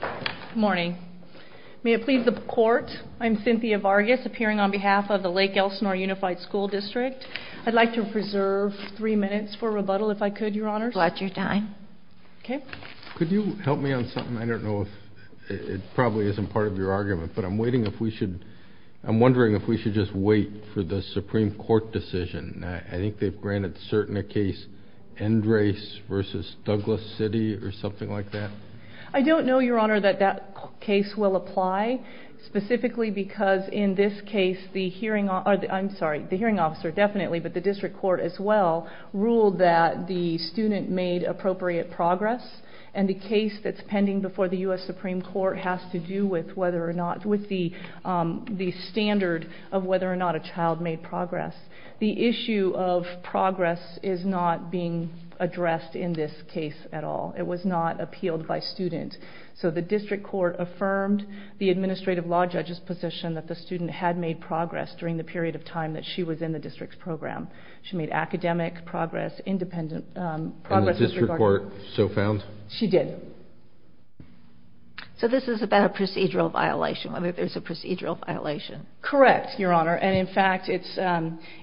Good morning. May it please the court, I'm Cynthia Vargas, appearing on behalf of the Lake Elsinore Unified Sch. Dist. I'd like to preserve three minutes for rebuttal if I could, Your Honor. Roger. Time. Okay. Could you help me on something? I don't know if it probably isn't part of your argument, but I'm waiting if we should... I'm wondering if we should just wait for the Supreme Court decision. I think they've granted certain a case, End Race v. Douglas City or something like that. I don't know, Your Honor, that that case will apply, specifically because in this case the hearing... I'm sorry, the hearing officer definitely, but the district court as well, ruled that the student made appropriate progress, and the case that's pending before the U.S. Supreme Court has to do with whether or not... with the standard of whether or not a child made progress. The issue of progress is not being addressed in this case at all. It was not appealed by student. So the district court affirmed the administrative law judge's position that the student had made progress during the period of time that she was in the district's program. She made academic progress, independent progress... And the district court so found? She did. So this is about a procedural violation, whether there's a procedural violation. Correct, Your Honor, and in fact it's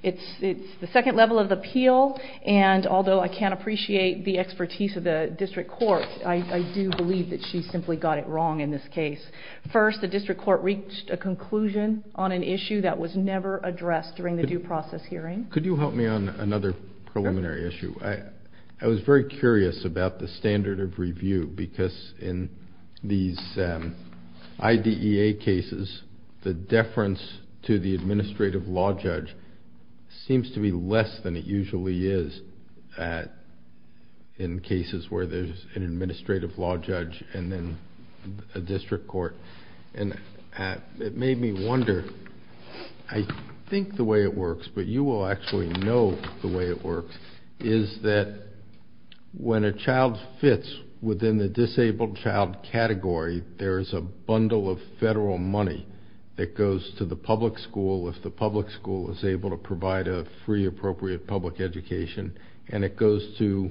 the second level of appeal, and although I can't appreciate the expertise of the district court, I do believe that she simply got it wrong in this case. First, the district court reached a conclusion on an issue that was never addressed during the due process hearing. Could you help me on another preliminary issue? I was very curious about the standard of review, because in these IDEA cases, the deference to the administrative law judge seems to be less than it usually is in cases where there's an administrative law judge and then a district court. And it made me wonder. I think the way it works, but you will actually know the way it works, is that when a child fits within the disabled child category, there is a bundle of federal money that goes to the public school if the public school is able to provide a free, appropriate public education, and it goes to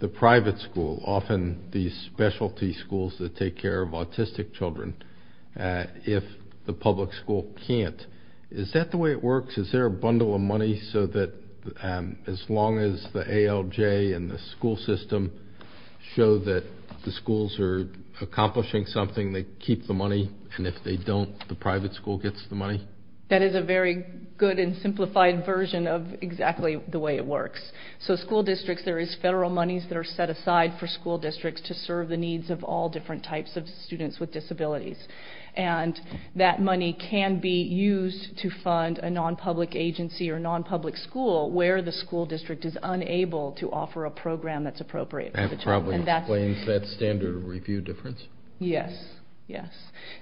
the private school, often these specialty schools that take care of autistic children, if the public school can't. Is that the way it works? Is there a bundle of money so that as long as the ALJ and the school system show that the schools are accomplishing something, they keep the money, and if they don't, the private school gets the money? That is a very good and simplified version of exactly the way it works. So school districts, there is federal monies that are set aside for school districts to serve the needs of all different types of students with disabilities. And that money can be used to fund a non-public agency or non-public school where the school district is unable to offer a program that's appropriate for the child. That probably explains that standard review difference. Yes, yes.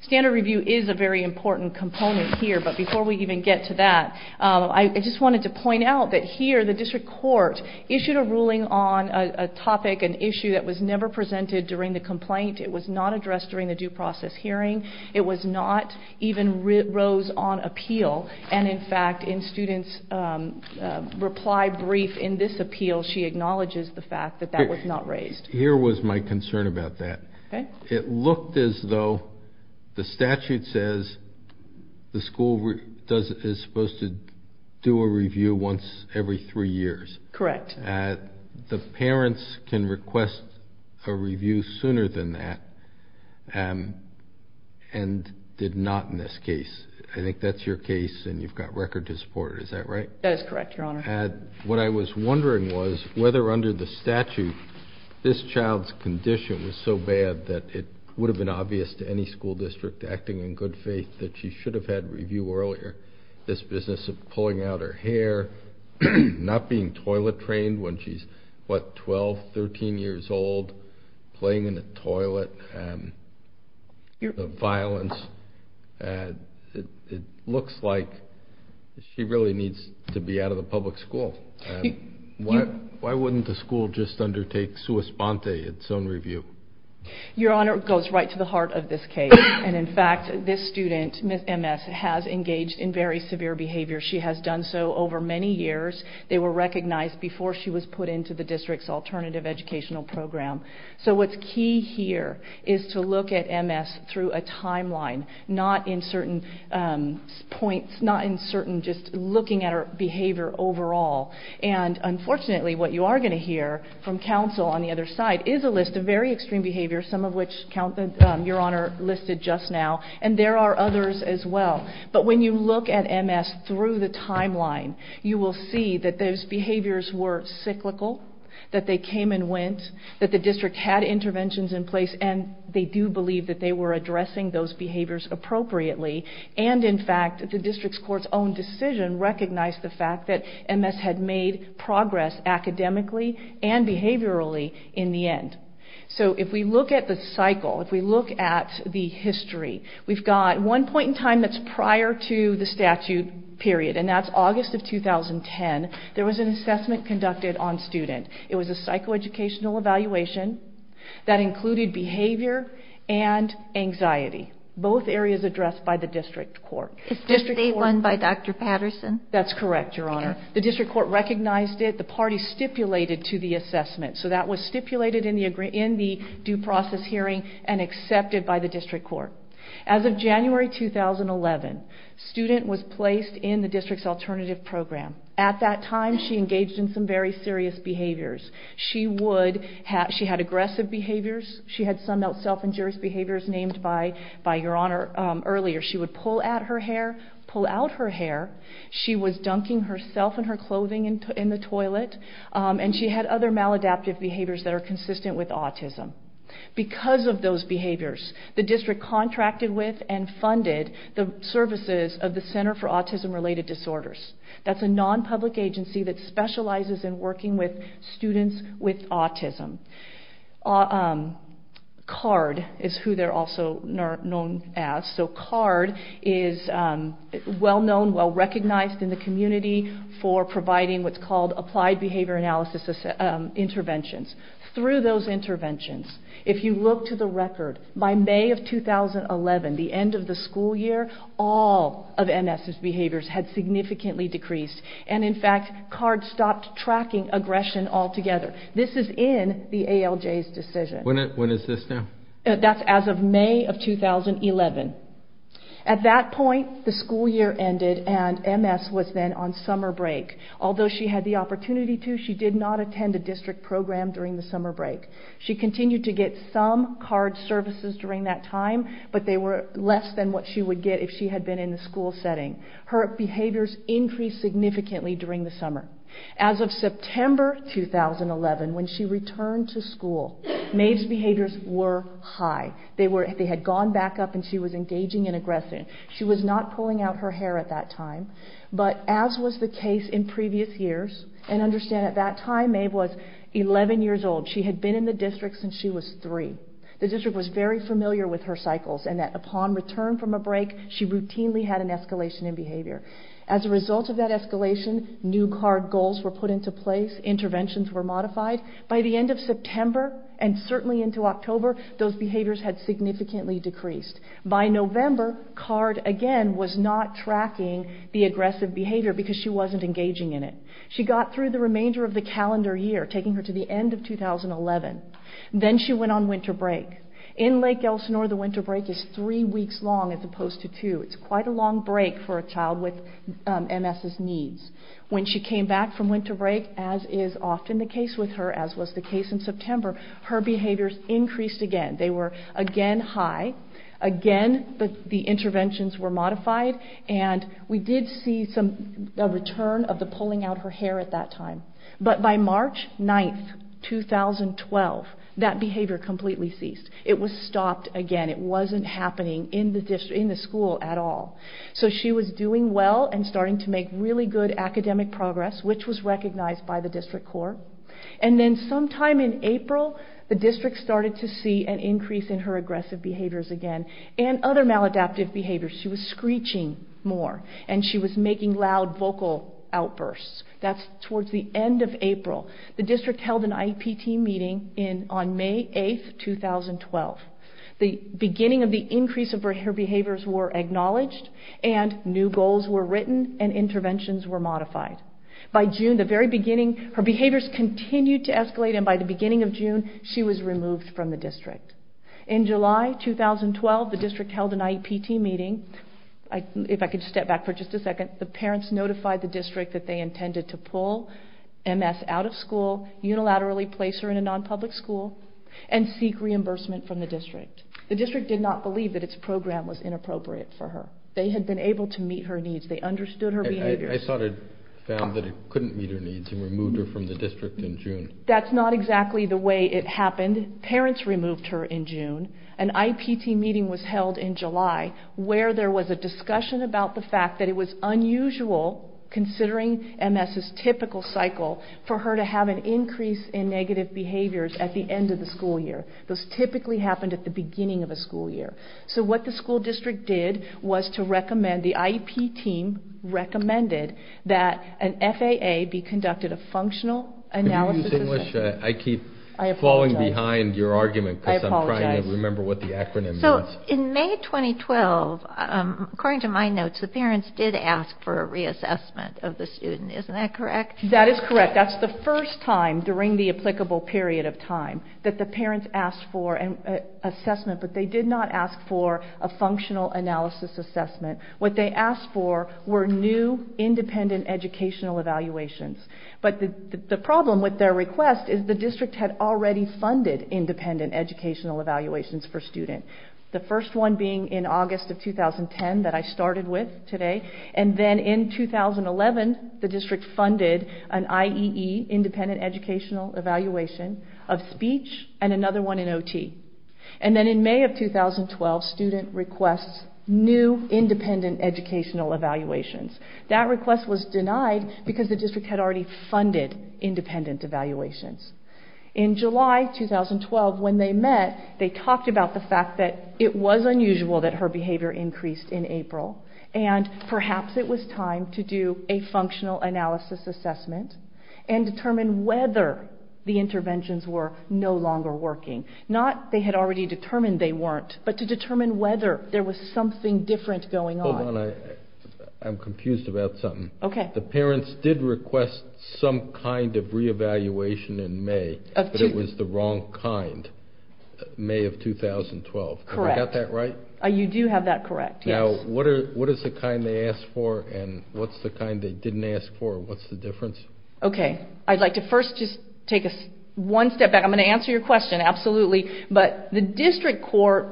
Standard review is a very important component here, but before we even get to that, I just wanted to point out that here the district court issued a ruling on a topic, an issue that was never presented during the complaint. It was not addressed during the due process hearing. It was not even rose on appeal. And, in fact, in students' reply brief in this appeal, she acknowledges the fact that that was not raised. Here was my concern about that. It looked as though the statute says the school is supposed to do a review once every three years. Correct. The parents can request a review sooner than that and did not in this case. I think that's your case, and you've got record to support it. Is that right? That is correct, Your Honor. What I was wondering was whether under the statute this child's condition was so bad that it would have been obvious to any school district acting in good faith that she should have had review earlier. This business of pulling out her hair, not being toilet trained when she's, what, 12, 13 years old, playing in the toilet, the violence. It looks like she really needs to be out of the public school. Why wouldn't the school just undertake sua sponte, its own review? Your Honor, it goes right to the heart of this case. In fact, this student, Ms. M.S., has engaged in very severe behavior. She has done so over many years. They were recognized before she was put into the district's alternative educational program. So what's key here is to look at Ms. through a timeline, not in certain points, not in certain just looking at her behavior overall. And, unfortunately, what you are going to hear from counsel on the other side is a list of very extreme behaviors, some of which your Honor listed just now, and there are others as well. But when you look at Ms. through the timeline, you will see that those behaviors were cyclical, that they came and went, that the district had interventions in place, and they do believe that they were addressing those behaviors appropriately. And, in fact, the district's court's own decision recognized the fact that Ms. had made progress academically and behaviorally in the end. So if we look at the cycle, if we look at the history, we've got one point in time that's prior to the statute period, and that's August of 2010. There was an assessment conducted on student. It was a psychoeducational evaluation that included behavior and anxiety, both areas addressed by the district court. Is this the one by Dr. Patterson? That's correct, Your Honor. The district court recognized it. The party stipulated to the assessment. So that was stipulated in the due process hearing and accepted by the district court. As of January 2011, student was placed in the district's alternative program. At that time, she engaged in some very serious behaviors. She had aggressive behaviors. She had some self-injurious behaviors named by Your Honor earlier. She would pull at her hair, pull out her hair. She was dunking herself and her clothing in the toilet, and she had other maladaptive behaviors that are consistent with autism. Because of those behaviors, the district contracted with and funded the services of the Center for Autism-Related Disorders. That's a non-public agency that specializes in working with students with autism. CARD is who they're also known as. So CARD is well-known, well-recognized in the community for providing what's called applied behavior analysis interventions. Through those interventions, if you look to the record, by May of 2011, the end of the school year, all of MS's behaviors had significantly decreased. And in fact, CARD stopped tracking aggression altogether. This is in the ALJ's decision. When is this now? That's as of May of 2011. At that point, the school year ended, and MS was then on summer break. Although she had the opportunity to, she did not attend a district program during the summer break. She continued to get some CARD services during that time, but they were less than what she would get if she had been in the school setting. Her behaviors increased significantly during the summer. As of September 2011, when she returned to school, Maeve's behaviors were high. They had gone back up, and she was engaging in aggression. She was not pulling out her hair at that time. But as was the case in previous years, and understand at that time Maeve was 11 years old. She had been in the district since she was 3. The district was very familiar with her cycles, and that upon return from a break, she routinely had an escalation in behavior. As a result of that escalation, new CARD goals were put into place. Interventions were modified. By the end of September, and certainly into October, those behaviors had significantly decreased. By November, CARD again was not tracking the aggressive behavior because she wasn't engaging in it. She got through the remainder of the calendar year, taking her to the end of 2011. Then she went on winter break. In Lake Elsinore, the winter break is 3 weeks long as opposed to 2. It's quite a long break for a child with MS' needs. When she came back from winter break, as is often the case with her, as was the case in September, her behaviors increased again. They were again high. Again, the interventions were modified, and we did see a return of the pulling out her hair at that time. But by March 9, 2012, that behavior completely ceased. It was stopped again. It wasn't happening in the school at all. So she was doing well and starting to make really good academic progress, which was recognized by the district court. And then sometime in April, the district started to see an increase in her aggressive behaviors again and other maladaptive behaviors. She was screeching more, and she was making loud vocal outbursts. That's towards the end of April. The district held an IEP team meeting on May 8, 2012. The beginning of the increase of her behaviors were acknowledged, and new goals were written, and interventions were modified. By June, the very beginning, her behaviors continued to escalate, and by the beginning of June, she was removed from the district. In July 2012, the district held an IEP team meeting. If I could step back for just a second, the parents notified the district that they intended to pull MS out of school, unilaterally place her in a non-public school, and seek reimbursement from the district. The district did not believe that its program was inappropriate for her. They had been able to meet her needs. They understood her behaviors. I thought it found that it couldn't meet her needs and removed her from the district in June. That's not exactly the way it happened. Parents removed her in June. An IEP team meeting was held in July, where there was a discussion about the fact that it was unusual, considering MS's typical cycle, for her to have an increase in negative behaviors at the end of the school year. Those typically happened at the beginning of a school year. So what the school district did was to recommend, the IEP team recommended that an FAA be conducted, a functional analysis of MS. I keep falling behind your argument, because I'm trying to remember what the acronym is. In May 2012, according to my notes, the parents did ask for a reassessment of the student. Isn't that correct? That is correct. That's the first time during the applicable period of time that the parents asked for an assessment, but they did not ask for a functional analysis assessment. What they asked for were new, independent educational evaluations. But the problem with their request is the district had already funded independent educational evaluations for students. The first one being in August of 2010, that I started with today. And then in 2011, the district funded an IEE, Independent Educational Evaluation, of speech, and another one in OT. And then in May of 2012, student requests new independent educational evaluations. That request was denied, because the district had already funded independent evaluations. In July 2012, when they met, they talked about the fact that it was unusual that her behavior increased in April. And perhaps it was time to do a functional analysis assessment and determine whether the interventions were no longer working. Not they had already determined they weren't, but to determine whether there was something different going on. Hold on, I'm confused about something. The parents did request some kind of re-evaluation in May, but it was the wrong kind, May of 2012. Correct. Have I got that right? You do have that correct, yes. Now, what is the kind they asked for, and what's the kind they didn't ask for? What's the difference? Okay. I'd like to first just take one step back. I'm going to answer your question, absolutely. But the district court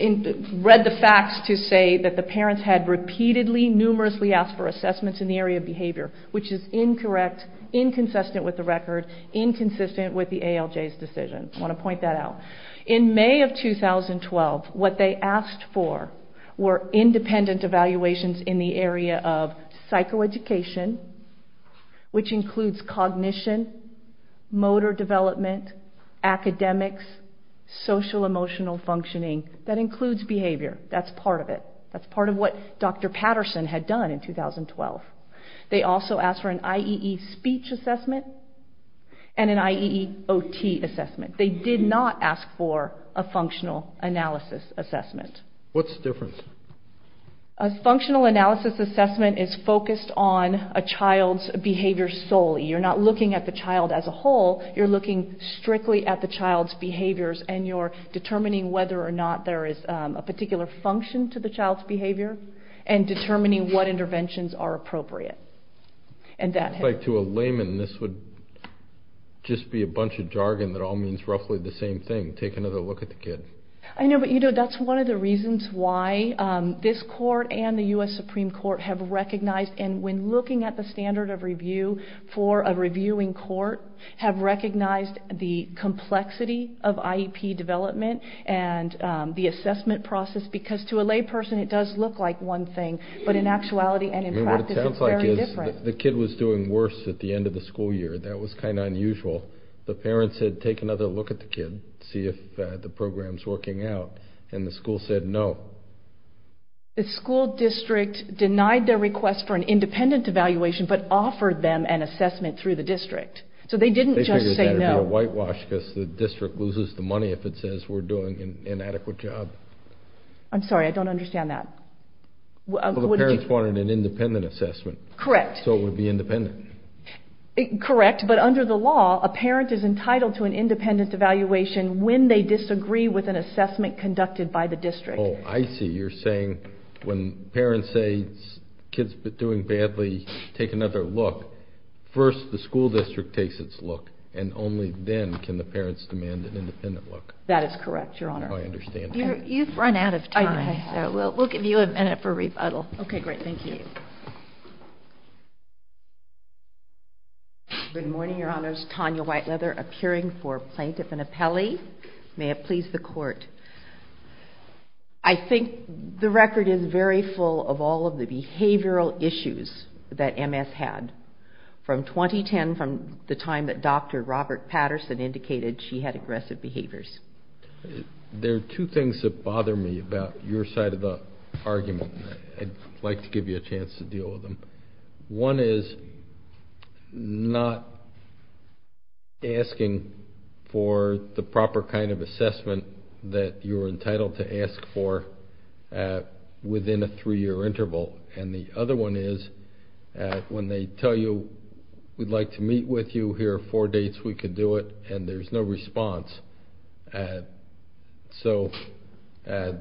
read the facts to say that the parents had repeatedly, numerously asked for assessments in the area of behavior, which is incorrect, inconsistent with the record, inconsistent with the ALJ's decision. I want to point that out. In May of 2012, what they asked for were independent evaluations in the area of psychoeducation, which includes cognition, motor development, academics, social-emotional functioning. That includes behavior. That's part of it. That's part of what Dr. Patterson had done in 2012. They also asked for an IEE speech assessment and an IEE OT assessment. They did not ask for a functional analysis assessment. What's the difference? A functional analysis assessment is focused on a child's behavior solely. You're not looking at the child as a whole. You're looking strictly at the child's behaviors, and you're determining whether or not there is a particular function to the child's behavior and determining what interventions are appropriate. To a layman, this would just be a bunch of jargon that all means roughly the same thing. Take another look at the kid. I know, but that's one of the reasons why this court and the U.S. Supreme Court have recognized, and when looking at the standard of review for a reviewing court, have recognized the complexity of IEP development and the assessment process. Because to a layperson, it does look like one thing, but in actuality and in practice, it's very different. What it sounds like is the kid was doing worse at the end of the school year. That was kind of unusual. The parents had taken another look at the kid, see if the program's working out, and the school said no. The school district denied their request for an independent evaluation but offered them an assessment through the district. So they didn't just say no. They figured it would be a whitewash because the district loses the money if it says we're doing an inadequate job. I'm sorry, I don't understand that. Well, the parents wanted an independent assessment. Correct. So it would be independent. Correct. But under the law, a parent is entitled to an independent evaluation when they disagree with an assessment conducted by the district. Oh, I see. You're saying when parents say the kid's been doing badly, take another look, first the school district takes its look, and only then can the parents demand an independent look. That is correct, Your Honor. I understand. You've run out of time. We'll give you a minute for a rebuttal. Okay, great. Thank you. Good morning, Your Honors. Tanya Whiteleather appearing for plaintiff and appellee. May it please the Court. I think the record is very full of all of the behavioral issues that MS had from 2010, from the time that Dr. Robert Patterson indicated she had aggressive behaviors. There are two things that bother me about your side of the argument. I'd like to give you a chance to deal with them. One is not asking for the proper kind of assessment that you're entitled to ask for within a three-year interval. And the other one is when they tell you we'd like to meet with you, here are four dates we could do it, and there's no response. So the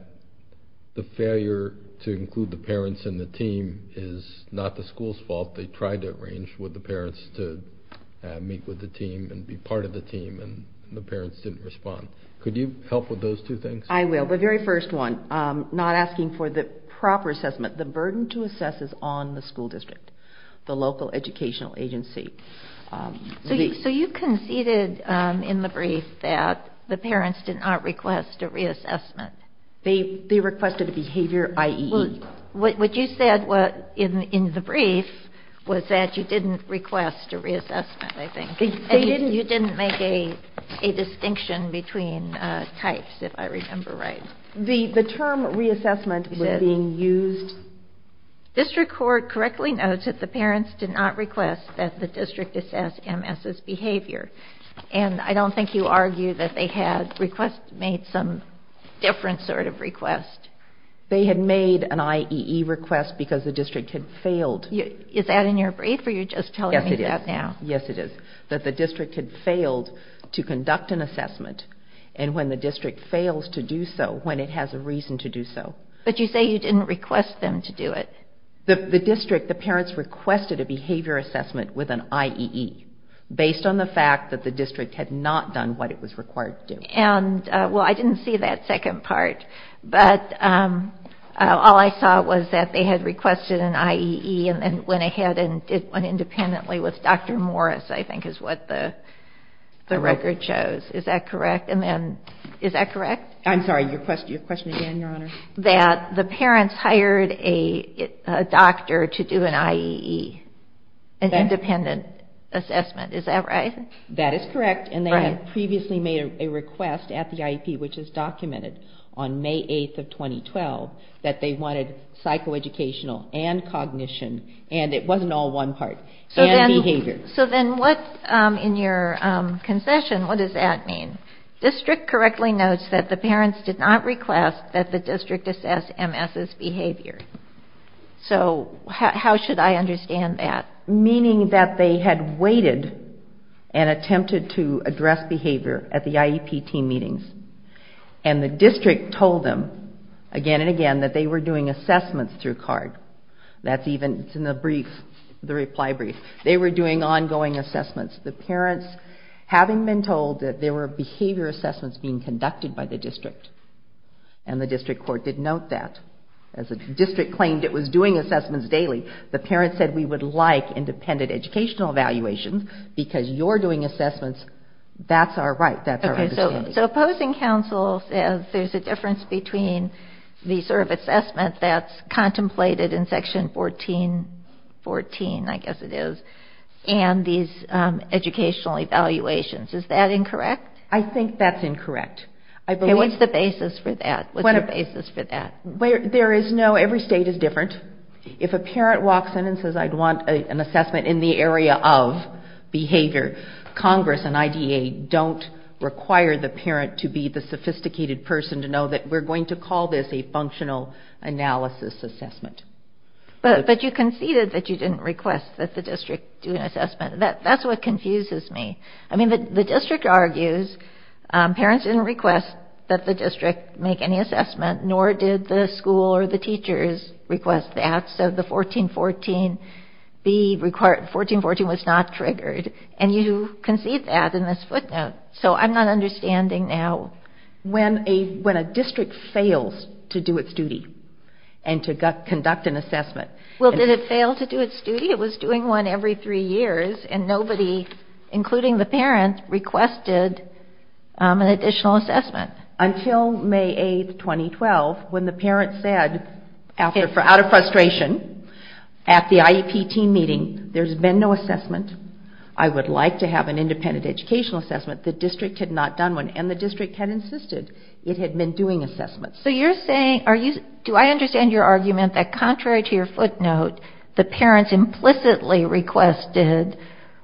failure to include the parents in the team is not the school's fault. They tried to arrange for the parents to meet with the team and be part of the team, and the parents didn't respond. Could you help with those two things? I will. The very first one, not asking for the proper assessment. The burden to assess is on the school district, the local educational agency. So you conceded in the brief that the parents did not request a reassessment. They requested a behavior, i.e. What you said in the brief was that you didn't request a reassessment, I think. You didn't make a distinction between types, if I remember right. The term reassessment was being used. District court correctly notes that the parents did not request that the district assess MS' behavior. And I don't think you argue that they had made some different sort of request. They had made an IEE request because the district had failed. Is that in your brief or you're just telling me that now? Yes, it is. That the district had failed to conduct an assessment, and when the district fails to do so, when it has a reason to do so. But you say you didn't request them to do it. The district, the parents requested a behavior assessment with an IEE, based on the fact that the district had not done what it was required to do. And, well, I didn't see that second part. But all I saw was that they had requested an IEE and then went ahead and did one independently with Dr. Morris, I think is what the record shows. Is that correct? And then, is that correct? I'm sorry, your question again, Your Honor? That the parents hired a doctor to do an IEE, an independent assessment. Is that right? That is correct, and they had previously made a request at the IEP, which is documented on May 8th of 2012, that they wanted psychoeducational and cognition, and it wasn't all one part, and behavior. So then what, in your concession, what does that mean? District correctly notes that the parents did not request that the district assess MS's behavior. So how should I understand that? Meaning that they had waited and attempted to address behavior at the IEP team meetings, and the district told them again and again that they were doing assessments through CARD. That's even in the brief, the reply brief. They were doing ongoing assessments. The parents, having been told that there were behavior assessments being conducted by the district, and the district court did note that. As the district claimed it was doing assessments daily, the parents said we would like independent educational evaluations, because you're doing assessments, that's our right. So opposing counsel says there's a difference between the sort of assessment that's contemplated in Section 14, I guess it is, and these educational evaluations. Is that incorrect? I think that's incorrect. Okay, what's the basis for that? What's the basis for that? There is no, every state is different. If a parent walks in and says I'd want an assessment in the area of behavior, Congress and IDA don't require the parent to be the sophisticated person to know that we're going to call this a functional analysis assessment. But you conceded that you didn't request that the district do an assessment. That's what confuses me. I mean, the district argues parents didn't request that the district make any assessment, nor did the school or the teachers request that. So the 1414 was not triggered. And you concede that in this footnote. So I'm not understanding now. When a district fails to do its duty and to conduct an assessment. Well, did it fail to do its duty? It was doing one every three years, and nobody, including the parent, requested an additional assessment. Until May 8, 2012, when the parent said, out of frustration, at the IEP team meeting, there's been no assessment, I would like to have an independent educational assessment, the district had not done one, and the district had insisted it had been doing assessments. So you're saying, do I understand your argument that contrary to your footnote, the parents implicitly requested,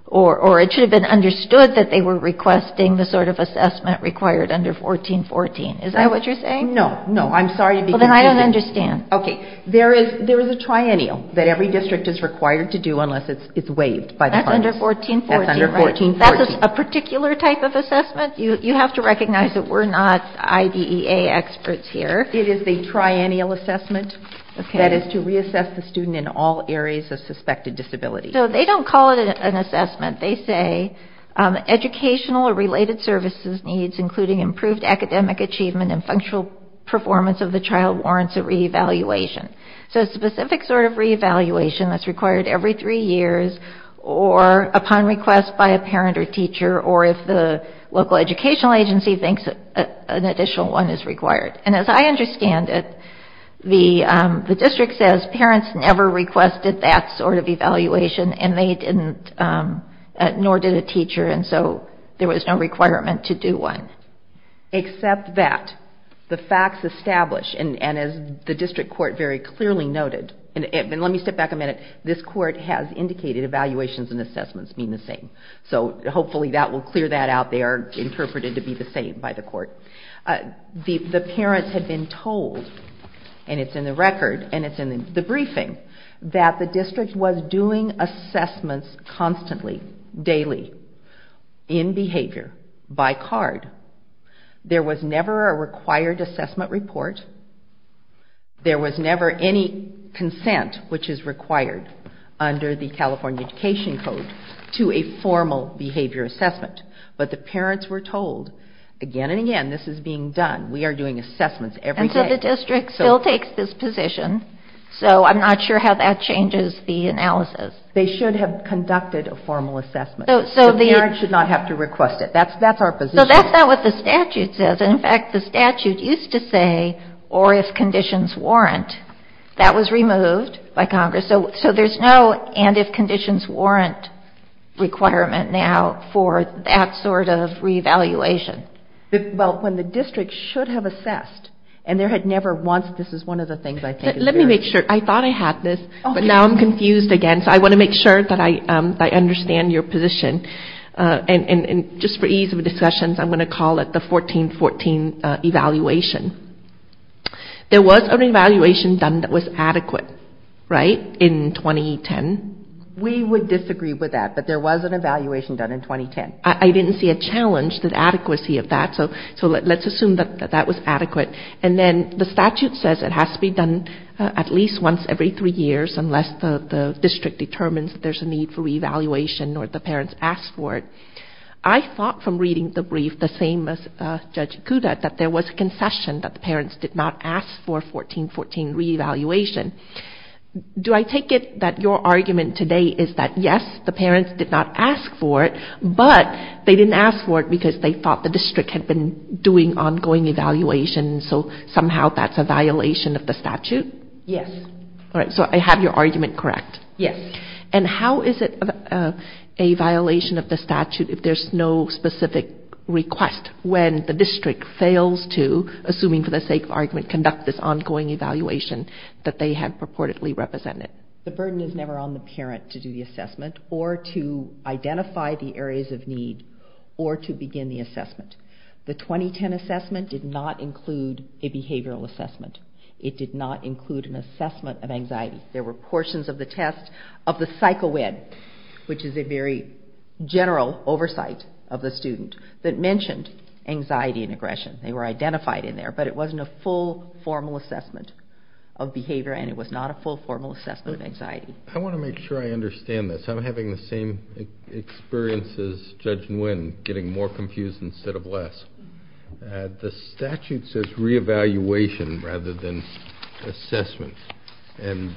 or it should have been understood that they were requesting the sort of assessment required under 1414. Is that what you're saying? No, no, I'm sorry to be confusing. Well, then I don't understand. Okay. There is a triennial that every district is required to do unless it's waived by the parties. That's under 1414, right? That's under 1414. That's a particular type of assessment? You have to recognize that we're not IDEA experts here. It is a triennial assessment that is to reassess the student in all areas of suspected disability. So they don't call it an assessment. They say, educational or related services needs, including improved academic achievement and functional performance of the child warrants a re-evaluation. So a specific sort of re-evaluation that's required every three years, or upon request by a parent or teacher, or if the local educational agency thinks an additional one is required. And as I understand it, the district says parents never requested that sort of evaluation, and they didn't, nor did a teacher, and so there was no requirement to do one. Except that the facts establish, and as the district court very clearly noted, and let me step back a minute, this court has indicated evaluations and assessments mean the same. So hopefully that will clear that out. They are interpreted to be the same by the court. The parents have been told, and it's in the record and it's in the briefing, that the district was doing assessments constantly, daily, in behavior, by card. There was never a required assessment report. There was never any consent, which is required under the California Education Code, to a formal behavior assessment. But the parents were told again and again, this is being done. We are doing assessments every day. And so the district still takes this position, so I'm not sure how that changes the analysis. They should have conducted a formal assessment. So the parents should not have to request it. That's our position. So that's not what the statute says. In fact, the statute used to say, or if conditions warrant. That was removed by Congress. So there's no and if conditions warrant requirement now for that sort of reevaluation. Well, when the district should have assessed, and there had never once, this is one of the things I think. Let me make sure. I thought I had this, but now I'm confused again. So I want to make sure that I understand your position. And just for ease of discussion, I'm going to call it the 1414 evaluation. There was an evaluation done that was adequate, right, in 2010. We would disagree with that, but there was an evaluation done in 2010. I didn't see a challenge to the adequacy of that, so let's assume that that was adequate. And then the statute says it has to be done at least once every three years, unless the district determines there's a need for reevaluation or the parents ask for it. I thought from reading the brief, the same as Judge Ikuda, that there was a concession that the parents did not ask for 1414 reevaluation. Do I take it that your argument today is that, yes, the parents did not ask for it, but they didn't ask for it because they thought the district had been doing ongoing evaluation, so somehow that's a violation of the statute? Yes. All right, so I have your argument correct. Yes. And how is it a violation of the statute if there's no specific request, when the district fails to, assuming for the sake of argument, conduct this ongoing evaluation that they had purportedly represented? The burden is never on the parent to do the assessment or to identify the areas of need or to begin the assessment. The 2010 assessment did not include a behavioral assessment. It did not include an assessment of anxiety. There were portions of the test of the psycho-ed, which is a very general oversight of the student, that mentioned anxiety and aggression. They were identified in there, but it wasn't a full formal assessment of behavior, and it was not a full formal assessment of anxiety. I want to make sure I understand this. I'm having the same experience as Judge Nguyen, getting more confused instead of less. The statute says re-evaluation rather than assessment, and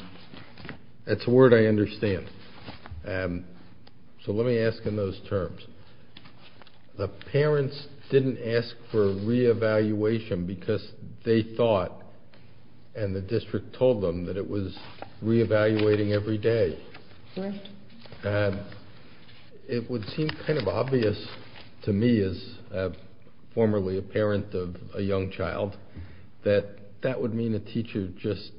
that's a word I understand. So let me ask in those terms. The parents didn't ask for re-evaluation because they thought, and the district told them, that it was re-evaluating every day. Correct. It would seem kind of obvious to me as formerly a parent of a young child that that would mean a teacher just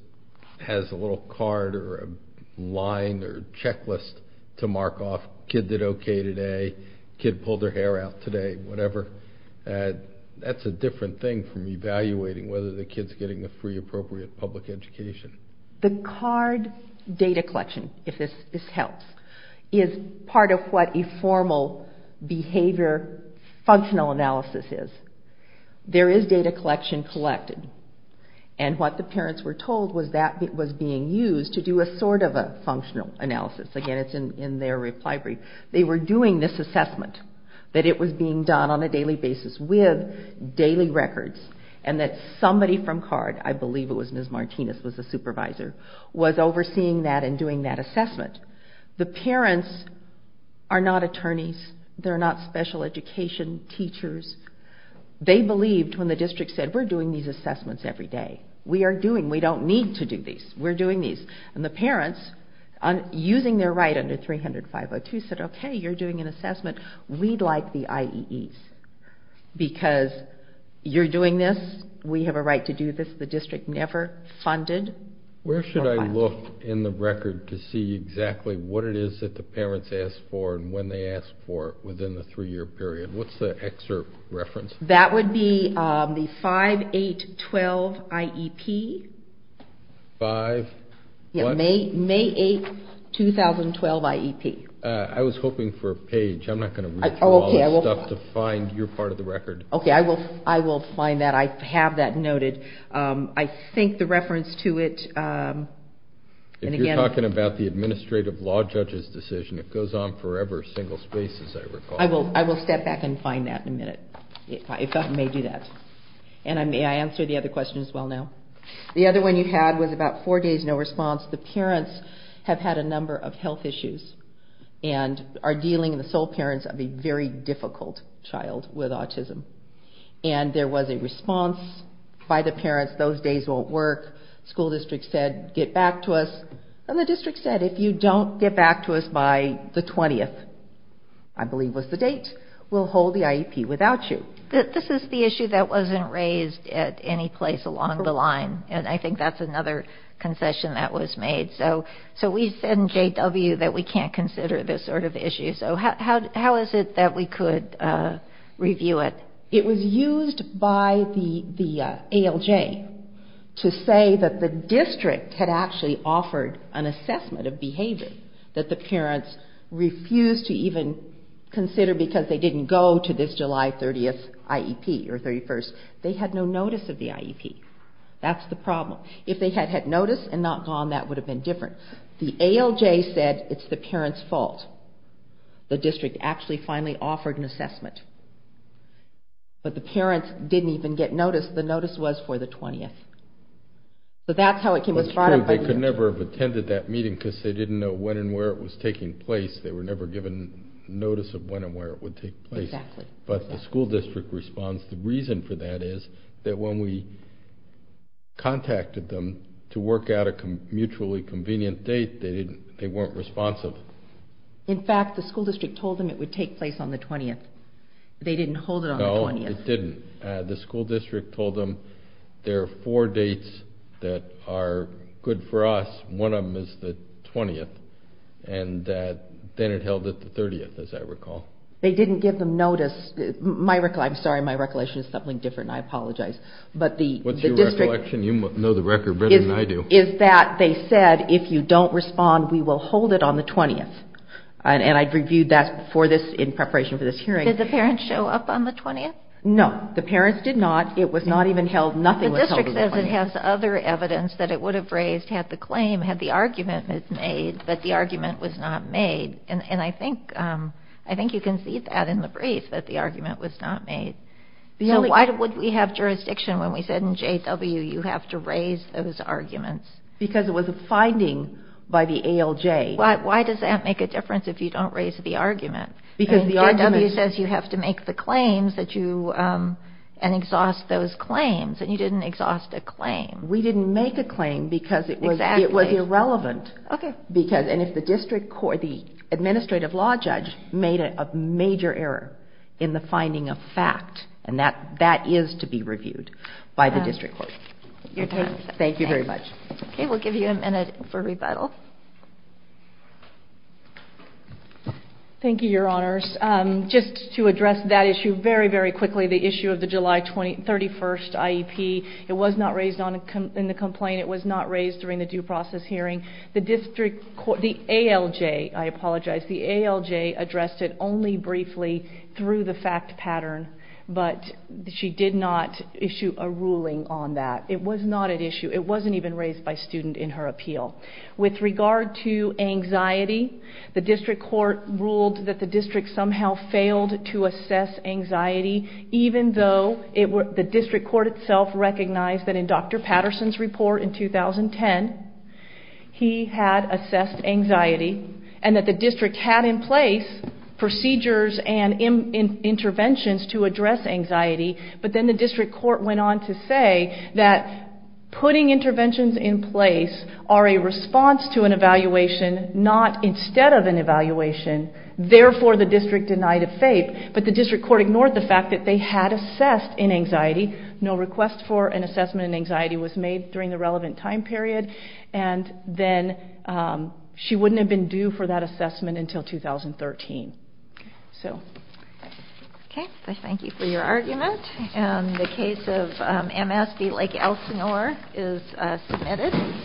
has a little card or a line or checklist to mark off, kid did okay today, kid pulled their hair out today, whatever. That's a different thing from evaluating whether the kid's getting the free appropriate public education. The card data collection, if this helps, is part of what a formal behavior functional analysis is. There is data collection collected, and what the parents were told was that it was being used to do a sort of a functional analysis. Again, it's in their reply brief. They were doing this assessment, that it was being done on a daily basis with daily records, and that somebody from CARD, I believe it was Ms. Martinez was the supervisor, was overseeing that and doing that assessment. The parents are not attorneys. They're not special education teachers. They believed when the district said, we're doing these assessments every day. We are doing, we don't need to do these. We're doing these. And the parents, using their right under 300.502, said, okay, you're doing an assessment. We'd like the IEEs because you're doing this. We have a right to do this. The district never funded. Where should I look in the record to see exactly what it is that the parents asked for and when they asked for it within the three-year period? What's the excerpt reference? That would be the 5-8-12 IEP. 5-what? May 8, 2012 IEP. I was hoping for a page. I'm not going to read through all this stuff to find your part of the record. Okay, I will find that. I have that noted. I think the reference to it. If you're talking about the administrative law judge's decision, it goes on forever, single spaces, I recall. I will step back and find that in a minute if that may do that. And may I answer the other question as well now? The other one you had was about four days, no response. The parents have had a number of health issues and are dealing, the sole parents, of a very difficult child with autism. And there was a response by the parents. Those days won't work. The school district said, get back to us. And the district said, if you don't get back to us by the 20th, I believe was the date, we'll hold the IEP without you. This is the issue that wasn't raised at any place along the line. And I think that's another concession that was made. So we send JW that we can't consider this sort of issue. So how is it that we could review it? It was used by the ALJ to say that the district had actually offered an assessment of behavior that the parents refused to even consider because they didn't go to this July 30th IEP or 31st. They had no notice of the IEP. That's the problem. If they had had notice and not gone, that would have been different. The ALJ said, it's the parent's fault. The district actually finally offered an assessment. But the parents didn't even get notice. The notice was for the 20th. So that's how it came about. They could never have attended that meeting because they didn't know when and where it was taking place. They were never given notice of when and where it would take place. Exactly. But the school district responds. The reason for that is that when we contacted them to work out a mutually convenient date, they weren't responsive. In fact, the school district told them it would take place on the 20th. They didn't hold it on the 20th. No, they didn't. The school district told them there are four dates that are good for us. One of them is the 20th. And then it held at the 30th, as I recall. They didn't give them notice. I'm sorry, my recollection is something different. I apologize. What's your recollection? You know the record better than I do. It's that they said, if you don't respond, we will hold it on the 20th. And I reviewed that in preparation for this hearing. Did the parents show up on the 20th? No, the parents did not. It was not even held. Nothing was held on the 20th. The district says it has other evidence that it would have raised had the claim, had the argument been made, but the argument was not made. And I think you can see that in the brief, that the argument was not made. Why would we have jurisdiction when we said in J.W. you have to raise those arguments? Because it was a finding by the ALJ. Why does that make a difference if you don't raise the argument? J.W. says you have to make the claims and exhaust those claims. And you didn't exhaust a claim. We didn't make a claim because it was irrelevant. And if the administrative law judge made a major error in the finding of fact, and that is to be reviewed by the district court. Thank you very much. Okay, we'll give you a minute for rebuttal. Thank you, Your Honors. Just to address that issue very, very quickly, the issue of the July 31st IEP. It was not raised in the complaint. It was not raised during the due process hearing. The district court, the ALJ, I apologize. The ALJ addressed it only briefly through the fact pattern. But she did not issue a ruling on that. It was not at issue. It wasn't even raised by student in her appeal. With regard to anxiety, the district court ruled that the district somehow failed to assess anxiety, even though the district court itself recognized that in Dr. Patterson's report in 2010, he had assessed anxiety and that the district had in place procedures and interventions to address anxiety. But then the district court went on to say that putting interventions in place are a response to an evaluation, not instead of an evaluation. Therefore, the district denied a FAPE. But the district court ignored the fact that they had assessed an anxiety. No request for an assessment in anxiety was made during the relevant time period. And then she wouldn't have been due for that assessment until 2013. So. Okay. I thank you for your argument. And the case of MSB Lake Elsinore is submitted.